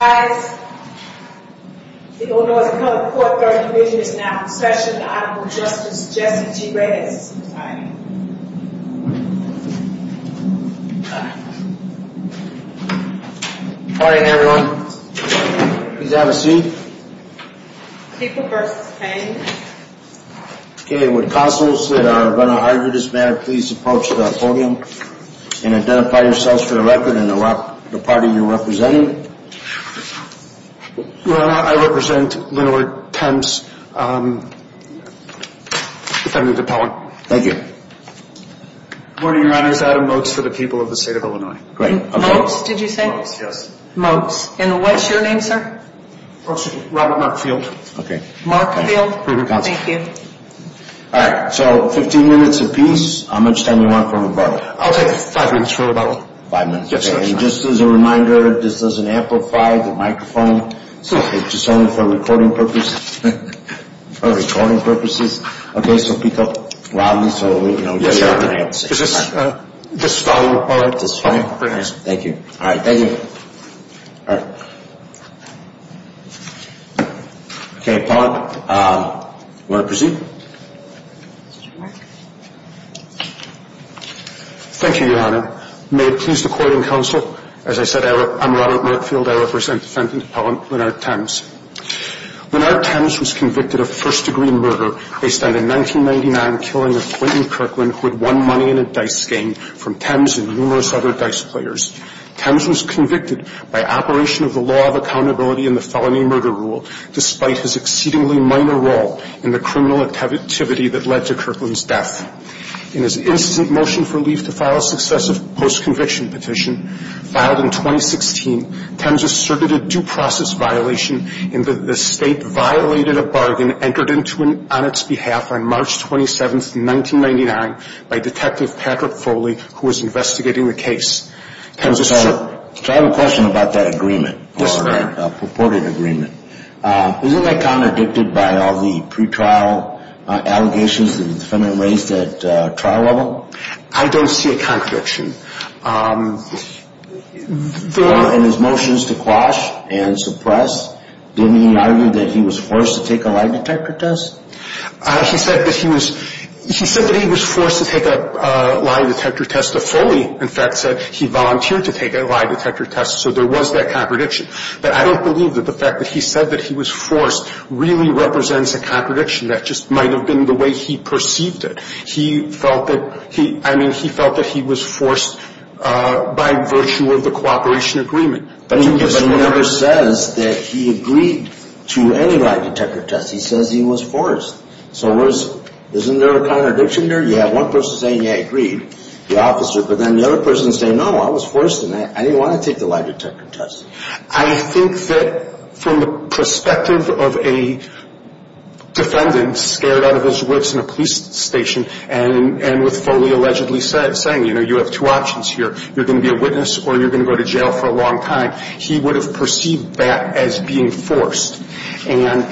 Guys, the Onoiza County Court 30th Division is now in session. The Honorable Justice Jesse G. Reyes is presiding. Good morning, everyone. Please have a seat. People v. Thames. Okay, would counsels that are going to argue this matter please approach the podium and identify yourselves for the record and the party you're representing. Well, I represent Lenore Thames. Defendant DePellin. Thank you. Good morning, Your Honors. Adam Mokes for the people of the state of Illinois. Mokes, did you say? Mokes, yes. Mokes. And what's your name, sir? Robert Markfield. Okay. Markfield. Thank you. All right, so 15 minutes apiece. How much time do you want for rebuttal? I'll take five minutes for rebuttal. Five minutes, okay. Yes, sir. And just as a reminder, this doesn't amplify the microphone. It's just only for recording purposes. For recording purposes. Okay, so speak up loudly so we can all hear you. Yes, sir. Is this volume all right? This volume? Yes, thank you. All right, thank you. Okay, appellant, you want to proceed? Thank you, Your Honor. May it please the court and counsel, as I said, I'm Robert Markfield. I represent defendant appellant Leonard Thames. Leonard Thames was convicted of first-degree murder based on the 1999 killing of Clayton Kirkland, who had won money in a dice game from Thames and numerous other dice players. Thames was convicted by operation of the law of accountability in the felony murder rule, despite his exceedingly minor role in the criminal activity that led to Kirkland's death. In his instant motion for leave to file a successive post-conviction petition, filed in 2016, Thames asserted a due process violation in that the state violated a bargain entered into on its behalf on March 27, 1999, by Detective Patrick Foley, who was investigating the case. Thames asserted. So I have a question about that agreement. Yes, sir. The purported agreement. Isn't that contradicted by all the pretrial allegations that the defendant raised at trial level? I don't see a contradiction. In his motions to quash and suppress, didn't he argue that he was forced to take a lie detector test? He said that he was forced to take a lie detector test. Foley, in fact, said he volunteered to take a lie detector test, so there was that contradiction. But I don't believe that the fact that he said that he was forced really represents a contradiction. That just might have been the way he perceived it. He felt that he was forced by virtue of the cooperation agreement. But he never says that he agreed to any lie detector test. He says he was forced. So isn't there a contradiction there? You have one person saying he agreed, the officer, but then the other person saying, no, I was forced and I didn't want to take the lie detector test. I think that from the perspective of a defendant scared out of his wits in a police station and with Foley allegedly saying, you know, you have two options here. You're going to be a witness or you're going to go to jail for a long time. He would have perceived that as being forced. And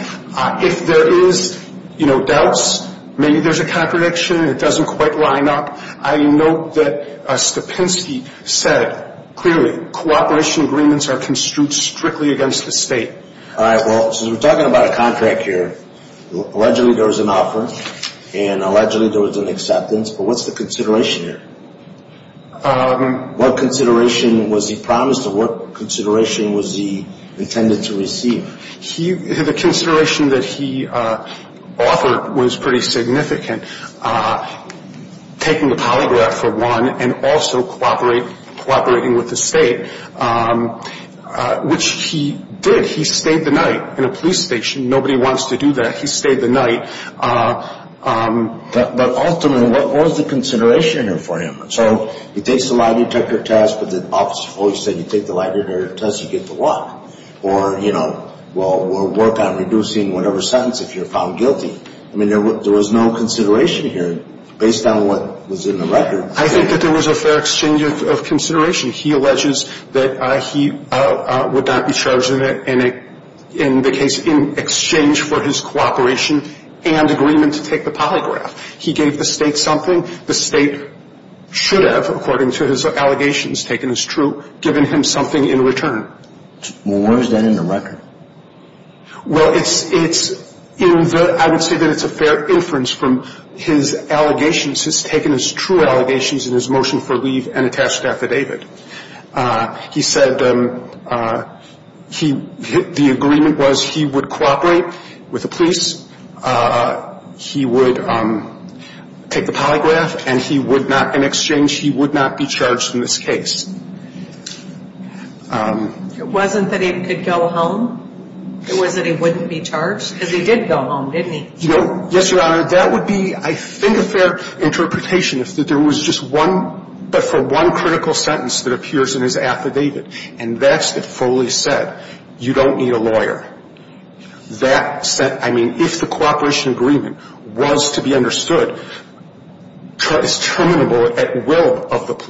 if there is, you know, doubts, maybe there's a contradiction and it doesn't quite line up. I note that Stepinski said clearly cooperation agreements are construed strictly against the state. All right. Well, since we're talking about a contract here, allegedly there was an offer and allegedly there was an acceptance, but what's the consideration here? What consideration was he promised or what consideration was he intended to receive? The consideration that he offered was pretty significant, taking the polygraph for one and also cooperating with the state, which he did. He stayed the night in a police station. Nobody wants to do that. He stayed the night. But ultimately, what was the consideration here for him? So he takes the lie detector test, but the officer of Foley said, or, you know, well, we'll work on reducing whatever sentence if you're found guilty. I mean, there was no consideration here based on what was in the record. I think that there was a fair exchange of consideration. He alleges that he would not be charged in the case in exchange for his cooperation and agreement to take the polygraph. He gave the state something the state should have, according to his allegations, taken as true, given him something in return. Well, where is that in the record? Well, I would say that it's a fair inference from his allegations, his taken as true allegations in his motion for leave and attached affidavit. He said the agreement was he would cooperate with the police, he would take the polygraph, and he would not, in exchange, he would not be charged in this case. It wasn't that he could go home? It was that he wouldn't be charged? Because he did go home, didn't he? No. Yes, Your Honor. That would be, I think, a fair interpretation, if there was just one, but for one critical sentence that appears in his affidavit, and that's that Foley said, you don't need a lawyer. That said, I mean, if the cooperation agreement was to be understood, it's terminable at will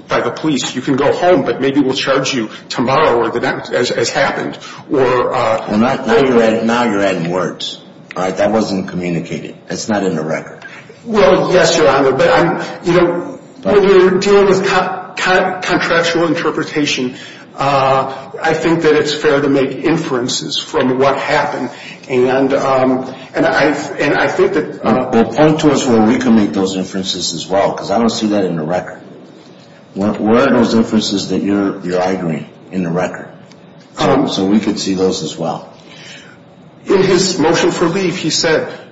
by the police. You can go home, but maybe we'll charge you tomorrow or the next, as happened. Now you're adding words. All right? That wasn't communicated. That's not in the record. Well, yes, Your Honor. But, you know, when you're dealing with contractual interpretation, I think that it's fair to make inferences from what happened. And I think that the point to us where we can make those inferences as well, because I don't see that in the record. Where are those inferences that you're arguing in the record? So we could see those as well. In his motion for leave, he said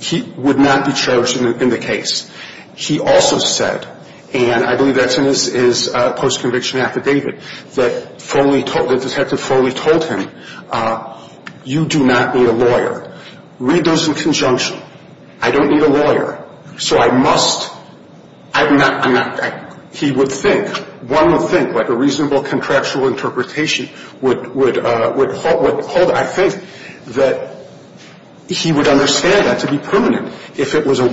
he would not be charged in the case. He also said, and I believe that's in his post-conviction affidavit, that Detective Foley told him, you do not need a lawyer. Read those in conjunction. I don't need a lawyer, so I must. He would think, one would think, like a reasonable contractual interpretation would hold. I think that he would understand that to be permanent. If it was a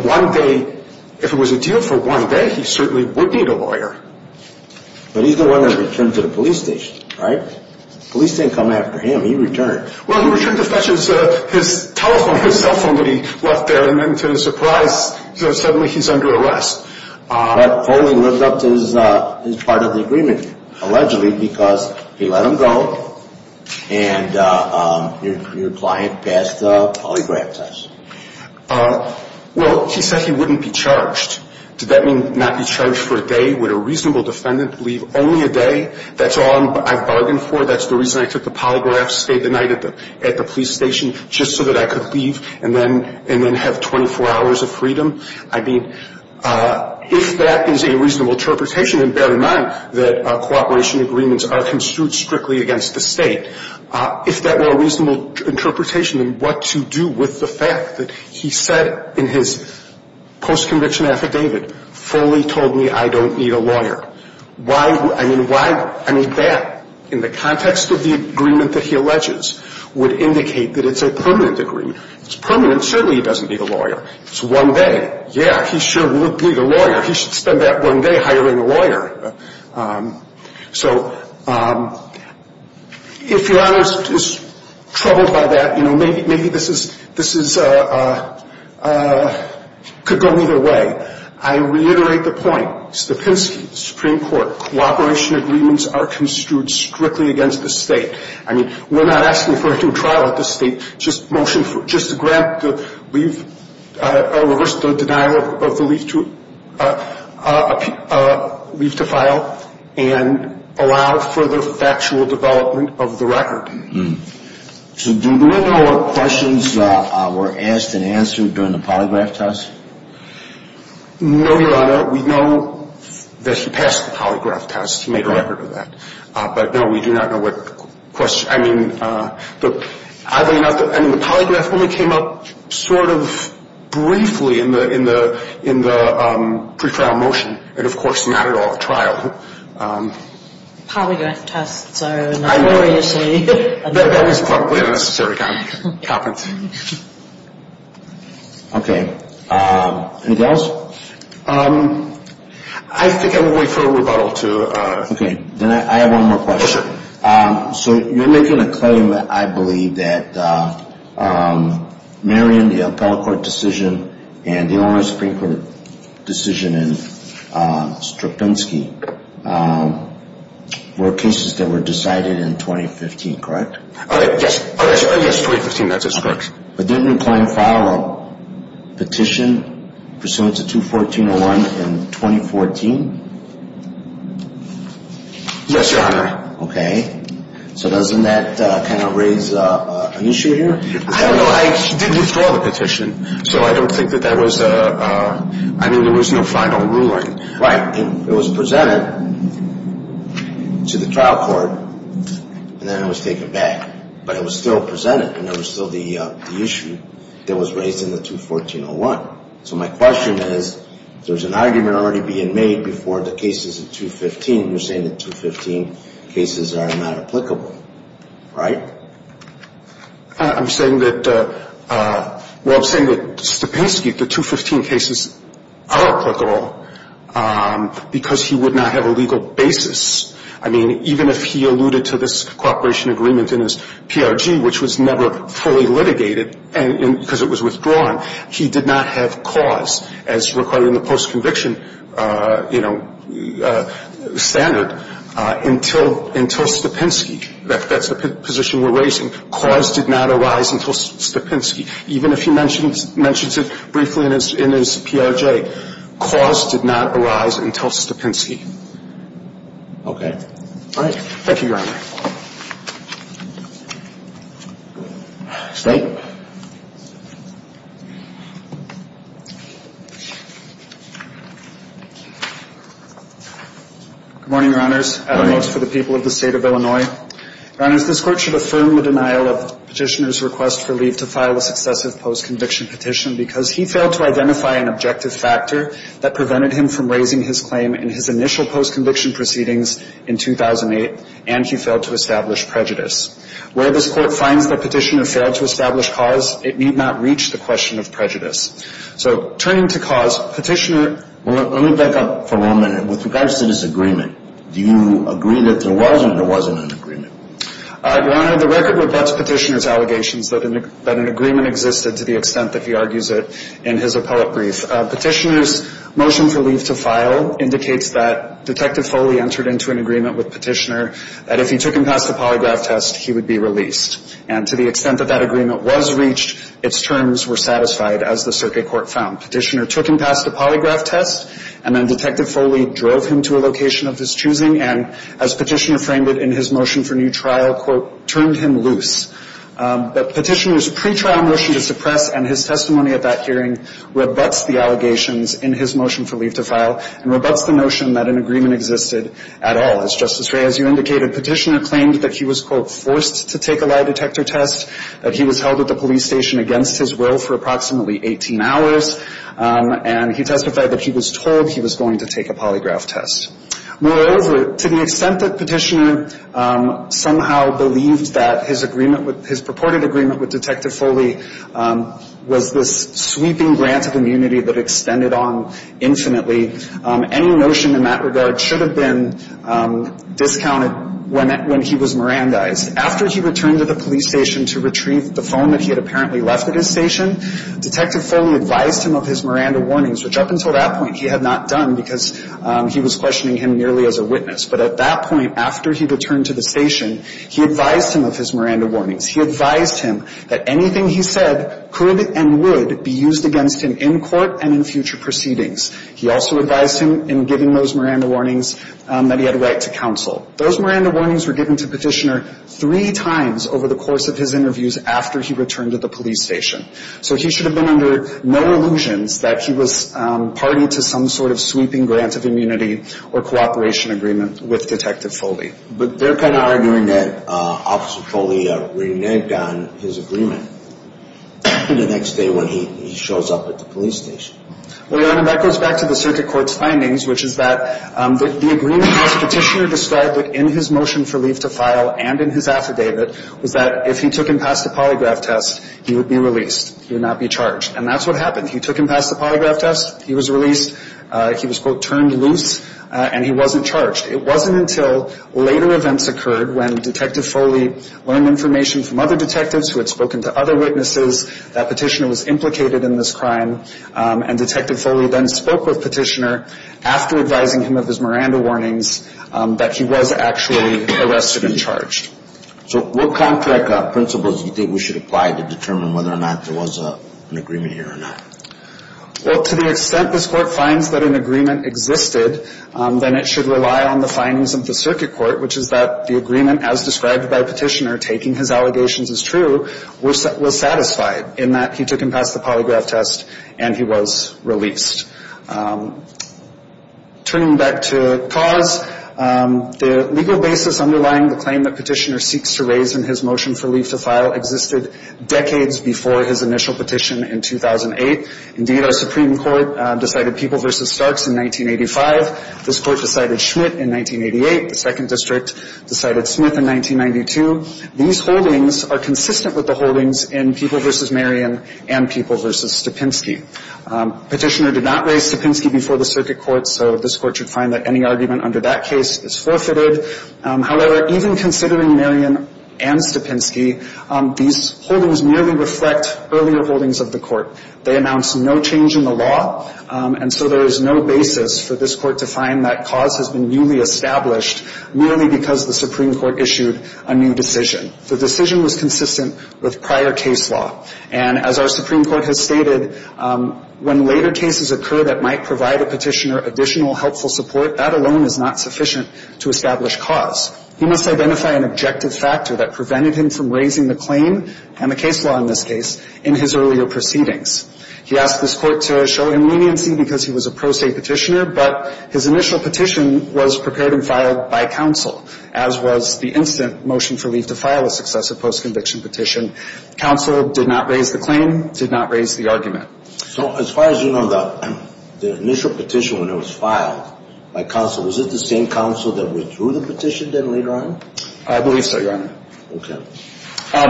deal for one day, he certainly would need a lawyer. But he's the one that returned to the police station, right? The police didn't come after him. He returned. Well, he returned to fetch his telephone, his cell phone that he left there, and then to his surprise, suddenly he's under arrest. But Foley lived up to his part of the agreement, allegedly, because he let him go and your client passed the polygraph test. Well, he said he wouldn't be charged. Did that mean not be charged for a day? Would a reasonable defendant leave only a day? That's all I've bargained for? That's the reason I took the polygraph, stayed the night at the police station just so that I could leave and then have 24 hours of freedom? I mean, if that is a reasonable interpretation, then bear in mind that cooperation agreements are construed strictly against the state. If that were a reasonable interpretation, and what to do with the fact that he said in his post-conviction affidavit, Foley told me I don't need a lawyer. Why? I mean, why? I mean, that, in the context of the agreement that he alleges, would indicate that it's a permanent agreement. If it's permanent, certainly he doesn't need a lawyer. It's one day. Yeah, he sure would need a lawyer. He should spend that one day hiring a lawyer. So, if Your Honor is troubled by that, you know, maybe this could go either way. I reiterate the point. The Pinsky Supreme Court cooperation agreements are construed strictly against the state. I mean, we're not asking for a due trial at this state. Just a grant to reverse the denial of the leave to file and allow further factual development of the record. So, do we know what questions were asked and answered during the polygraph test? No, Your Honor. We know that he passed the polygraph test. He made a record of that. But, no, we do not know what questions. I mean, oddly enough, the polygraph only came up sort of briefly in the pre-trial motion, and, of course, not at all at trial. Polygraph tests are notoriously- That was probably a necessary comment. Okay. Anything else? I think I will wait for a rebuttal to- Okay. Then I have one more question. Oh, sure. So, you're making a claim, I believe, that Marion, the appellate court decision, and the owner of the Supreme Court decision in Struttinsky were cases that were decided in 2015, correct? Yes. Yes, 2015. That's correct. But didn't the client file a petition pursuant to 214.01 in 2014? Yes, Your Honor. Okay. So doesn't that kind of raise an issue here? I don't know. I did withdraw the petition, so I don't think that that was a- I mean, there was no final ruling. Right. It was presented to the trial court, and then it was taken back. But it was still presented, and there was still the issue that was raised in the 214.01. So my question is, there's an argument already being made before the cases in 2015. You're saying that 2015 cases are not applicable, right? I'm saying that-well, I'm saying that Stepinski, the 2015 cases are applicable because he would not have a legal basis. I mean, even if he alluded to this cooperation agreement in his PRG, which was never fully litigated because it was withdrawn, he did not have cause as required in the post-conviction, you know, standard until Stepinski. That's the position we're raising. Cause did not arise until Stepinski. Even if he mentions it briefly in his PRG, cause did not arise until Stepinski. Okay. All right. Thank you, Your Honor. State? Good morning, Your Honors. Good morning. I have a note for the people of the State of Illinois. Your Honors, this Court should affirm the denial of Petitioner's request for leave to file a successive post-conviction petition because he failed to identify an objective factor that prevented him from raising his claim in his initial post-conviction proceedings in 2008, and he failed to establish prejudice. Where this Court finds that Petitioner failed to establish prejudice, it need not reach the question of prejudice. So turning to cause, Petitioner – Let me back up for one minute. With regards to this agreement, do you agree that there was or there wasn't an agreement? Your Honor, the record rebuts Petitioner's allegations that an agreement existed to the extent that he argues it in his appellate brief. Petitioner's motion for leave to file indicates that Detective Foley entered into an agreement with Petitioner that if he took him past the polygraph test, he would be released. And to the extent that that agreement was reached, its terms were satisfied, as the circuit court found. Petitioner took him past the polygraph test, and then Detective Foley drove him to a location of his choosing, and as Petitioner framed it in his motion for new trial, quote, turned him loose. But Petitioner's pretrial motion to suppress and his testimony at that hearing rebuts the allegations in his motion for leave to file and rebuts the notion that an agreement existed at all. As Justice Rea, as you indicated, Petitioner claimed that he was, quote, forced to take a lie detector test, that he was held at the police station against his will for approximately 18 hours, and he testified that he was told he was going to take a polygraph test. Moreover, to the extent that Petitioner somehow believed that his agreement with his purported agreement with Detective Foley was this sweeping grant of immunity that extended on infinitely, any notion in that regard should have been discounted when he was Mirandized. After he returned to the police station to retrieve the phone that he had apparently left at his station, Detective Foley advised him of his Miranda warnings, which up until that point he had not done because he was questioning him merely as a witness. But at that point, after he returned to the station, he advised him of his Miranda warnings. He advised him that anything he said could and would be used against him in court and in future proceedings. He also advised him in giving those Miranda warnings that he had a right to counsel. Those Miranda warnings were given to Petitioner three times over the course of his interviews after he returned to the police station. So he should have been under no illusions that he was party to some sort of sweeping grant of immunity or cooperation agreement with Detective Foley. But they're kind of arguing that Officer Foley reneged on his agreement the next day when he shows up at the police station. Well, Your Honor, that goes back to the circuit court's findings, which is that the agreement that Petitioner described in his motion for leave to file and in his affidavit was that if he took him past the polygraph test, he would be released. He would not be charged. And that's what happened. He took him past the polygraph test. He was released. He was, quote, turned loose. And he wasn't charged. It wasn't until later events occurred when Detective Foley learned information from other detectives who had spoken to other witnesses that Petitioner was implicated in this crime and Detective Foley then spoke with Petitioner after advising him of his Miranda warnings that he was actually arrested and charged. So what contract principles do you think we should apply to determine whether or not there was an agreement here or not? Well, to the extent this Court finds that an agreement existed, then it should rely on the findings of the circuit court, which is that the agreement as described by Petitioner, taking his allegations as true, was satisfied in that he took him past the polygraph test and he was released. Turning back to cause, the legal basis underlying the claim that Petitioner seeks to raise in his motion for leave to file existed decades before his initial petition in 2008. Indeed, our Supreme Court decided People v. Starks in 1985. This Court decided Schmidt in 1988. The Second District decided Smith in 1992. These holdings are consistent with the holdings in People v. Marion and People v. Stapinski. Petitioner did not raise Stapinski before the circuit court, so this Court should find that any argument under that case is forfeited. However, even considering Marion and Stapinski, these holdings merely reflect earlier holdings of the Court. They announce no change in the law, and so there is no basis for this Court to find that cause has been newly established merely because the Supreme Court issued a new decision. The decision was consistent with prior case law, and as our Supreme Court has stated, when later cases occur that might provide a petitioner additional helpful support, that alone is not sufficient to establish cause. He must identify an objective factor that prevented him from raising the claim and the case law in this case in his earlier proceedings. He asked this Court to show him leniency because he was a pro se petitioner, but his initial petition was prepared and filed by counsel, as was the instant motion for leave to file a successive post-conviction petition. Counsel did not raise the claim, did not raise the argument. So as far as you know, the initial petition when it was filed by counsel, was it the same counsel that withdrew the petition then later on? I believe so, Your Honor. Okay.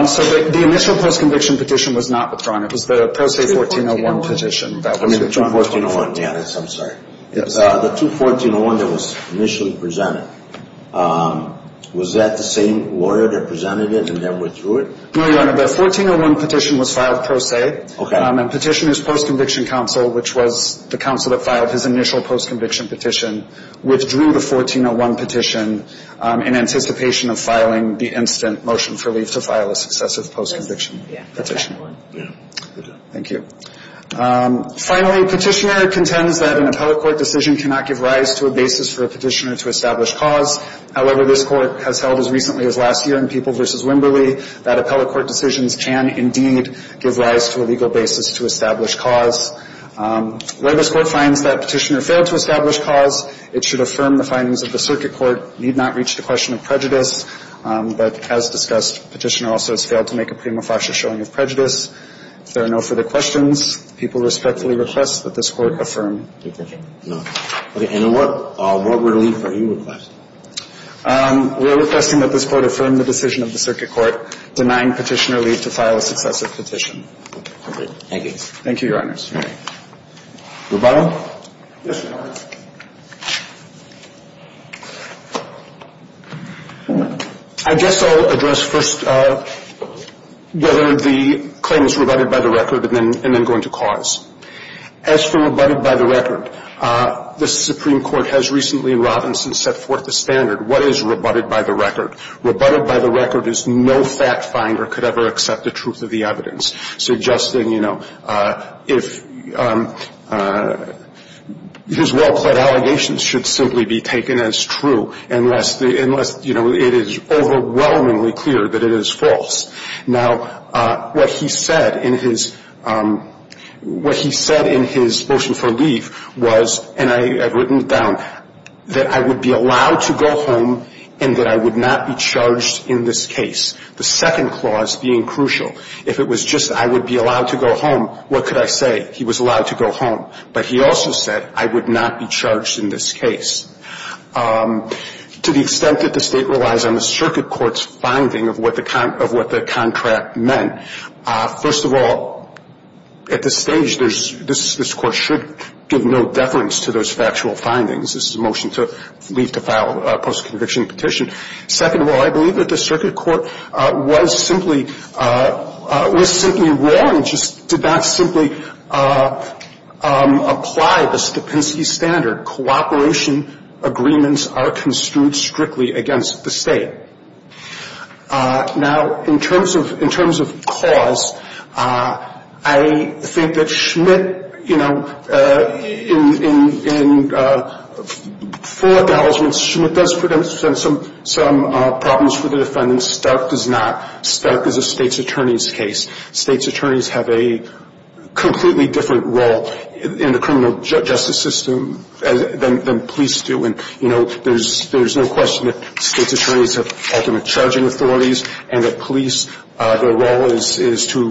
So the initial post-conviction petition was not withdrawn. It was the pro se 1401 petition that was withdrawn. I'm sorry. The 1401 that was initially presented, was that the same order that presented it and then withdrew it? No, Your Honor. The 1401 petition was filed pro se. Okay. And petitioners post-conviction counsel, which was the counsel that filed his initial post-conviction petition, withdrew the 1401 petition in anticipation of filing the instant motion for leave to file a successive post-conviction petition. Thank you. Finally, petitioner contends that an appellate court decision cannot give rise to a basis for a petitioner to establish cause. However, this Court has held as recently as last year in People v. Wimberley that appellate court decisions can indeed give rise to a legal basis to establish cause. Where this Court finds that petitioner failed to establish cause, it should affirm the findings of the circuit court need not reach the question of prejudice, but as discussed, petitioner also has failed to make a prima facie showing of prejudice. If there are no further questions, the people respectfully request that this Court affirm the petition. No. Okay. And what relief are you requesting? We are requesting that this Court affirm the decision of the circuit court denying petitioner leave to file a successive petition. Okay. Thank you, Your Honors. All right. Rubado? Yes, Your Honor. I guess I'll address first whether the claim is rebutted by the record and then going to cause. As for rebutted by the record, the Supreme Court has recently in Robinson set forth the standard, what is rebutted by the record? Rebutted by the record is no fact finder could ever accept the truth of the evidence, suggesting, you know, if his well-pled allegations should simply be taken as true, unless, you know, it is overwhelmingly clear that it is false. Now, what he said in his motion for leave was, and I have written it down, that I would be allowed to go home and that I would not be charged in this case, the second clause being crucial. If it was just I would be allowed to go home, what could I say? He was allowed to go home. But he also said I would not be charged in this case. To the extent that the state relies on the circuit court's finding of what the contract meant, first of all, at this stage, this court should give no deference to those factual findings. This is a motion to leave to file a post-conviction petition. Second of all, I believe that the circuit court was simply wrong, just did not simply apply the Stupinsky standard. Cooperation agreements are construed strictly against the state. Now, in terms of cause, I think that Schmidt, you know, in full acknowledgment, Schmidt does present some problems for the defendant. Stark does not. Stark is a state's attorney's case. State's attorneys have a completely different role in the criminal justice system than police do. And, you know, there's no question that state's attorneys have ultimate charging authorities, and that police, their role is to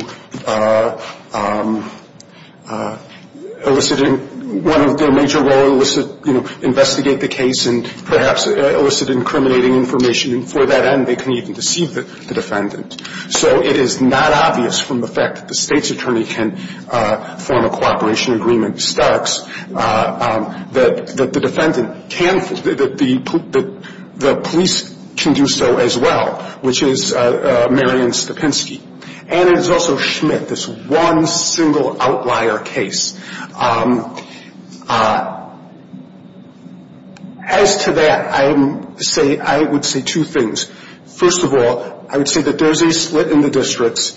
elicit in one of their major roles, you know, investigate the case and perhaps elicit incriminating information. And for that end, they can even deceive the defendant. So it is not obvious from the fact that the state's attorney can form a cooperation agreement with Stark's that the defendant can, that the police can do so as well, which is Marion Stupinsky. And it is also Schmidt, this one single outlier case. As to that, I would say two things. First of all, I would say that there is a split in the districts.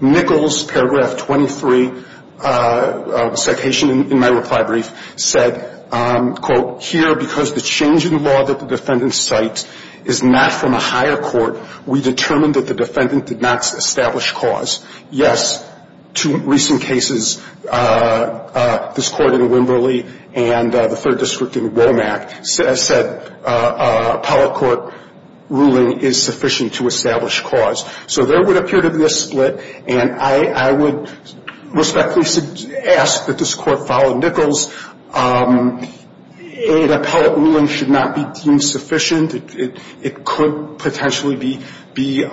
Nichols, paragraph 23, citation in my reply brief, said, quote, here because the change in the law that the defendant cites is not from a higher court, we determined that the defendant did not establish cause. Yes, two recent cases, this court in Wimberley and the third district in Womack, said appellate court ruling is sufficient to establish cause. So there would appear to be a split, and I would respectfully ask that this court follow Nichols. An appellate ruling should not be deemed sufficient. It could potentially be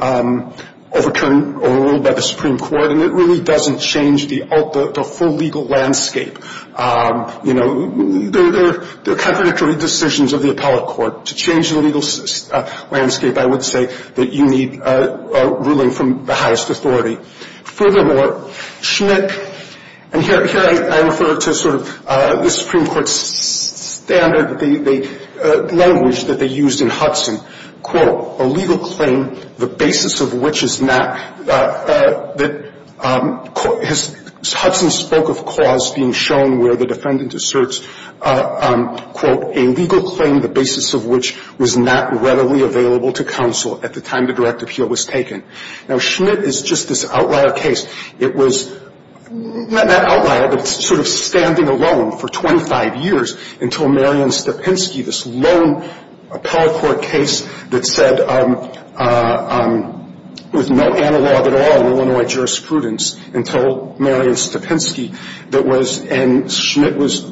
overturned or ruled by the Supreme Court, and it really doesn't change the full legal landscape. You know, there are contradictory decisions of the appellate court. To change the legal landscape, I would say that you need a ruling from the highest authority. Furthermore, Schmidt, and here I refer to sort of the Supreme Court's standard, the language that they used in Hudson, quote, a legal claim, the basis of which is not that Hudson spoke of cause being shown where the defendant asserts, quote, a legal claim the basis of which was not readily available to counsel at the time the direct appeal was taken. Now, Schmidt is just this outlier case. It was not outlier, but sort of standing alone for 25 years until Marion Stepinski, this lone appellate court case that said there was no analog at all in Illinois jurisprudence until Marion Stepinski that was, and Schmidt was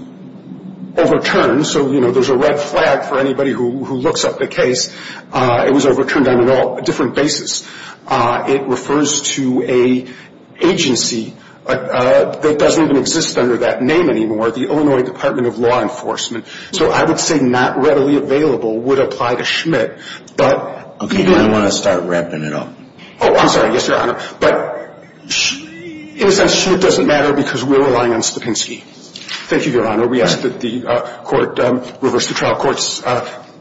overturned. So, you know, there's a red flag for anybody who looks up the case. It was overturned on a different basis. It refers to an agency that doesn't even exist under that name anymore, the Illinois Department of Law Enforcement. So I would say not readily available would apply to Schmidt, but. Okay. Do you want to start ramping it up? Oh, I'm sorry. Yes, Your Honor. But in a sense, Schmidt doesn't matter because we're relying on Stepinski. Thank you, Your Honor. We ask that the court reverse the trial court's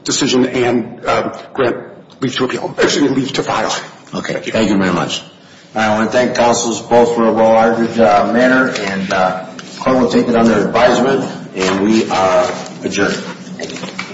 decision and grant leave to appeal. Actually, leave to file. Okay. Thank you very much. I want to thank counsels both for a well-argued manner, and the court will take it under advisement, and we are adjourned.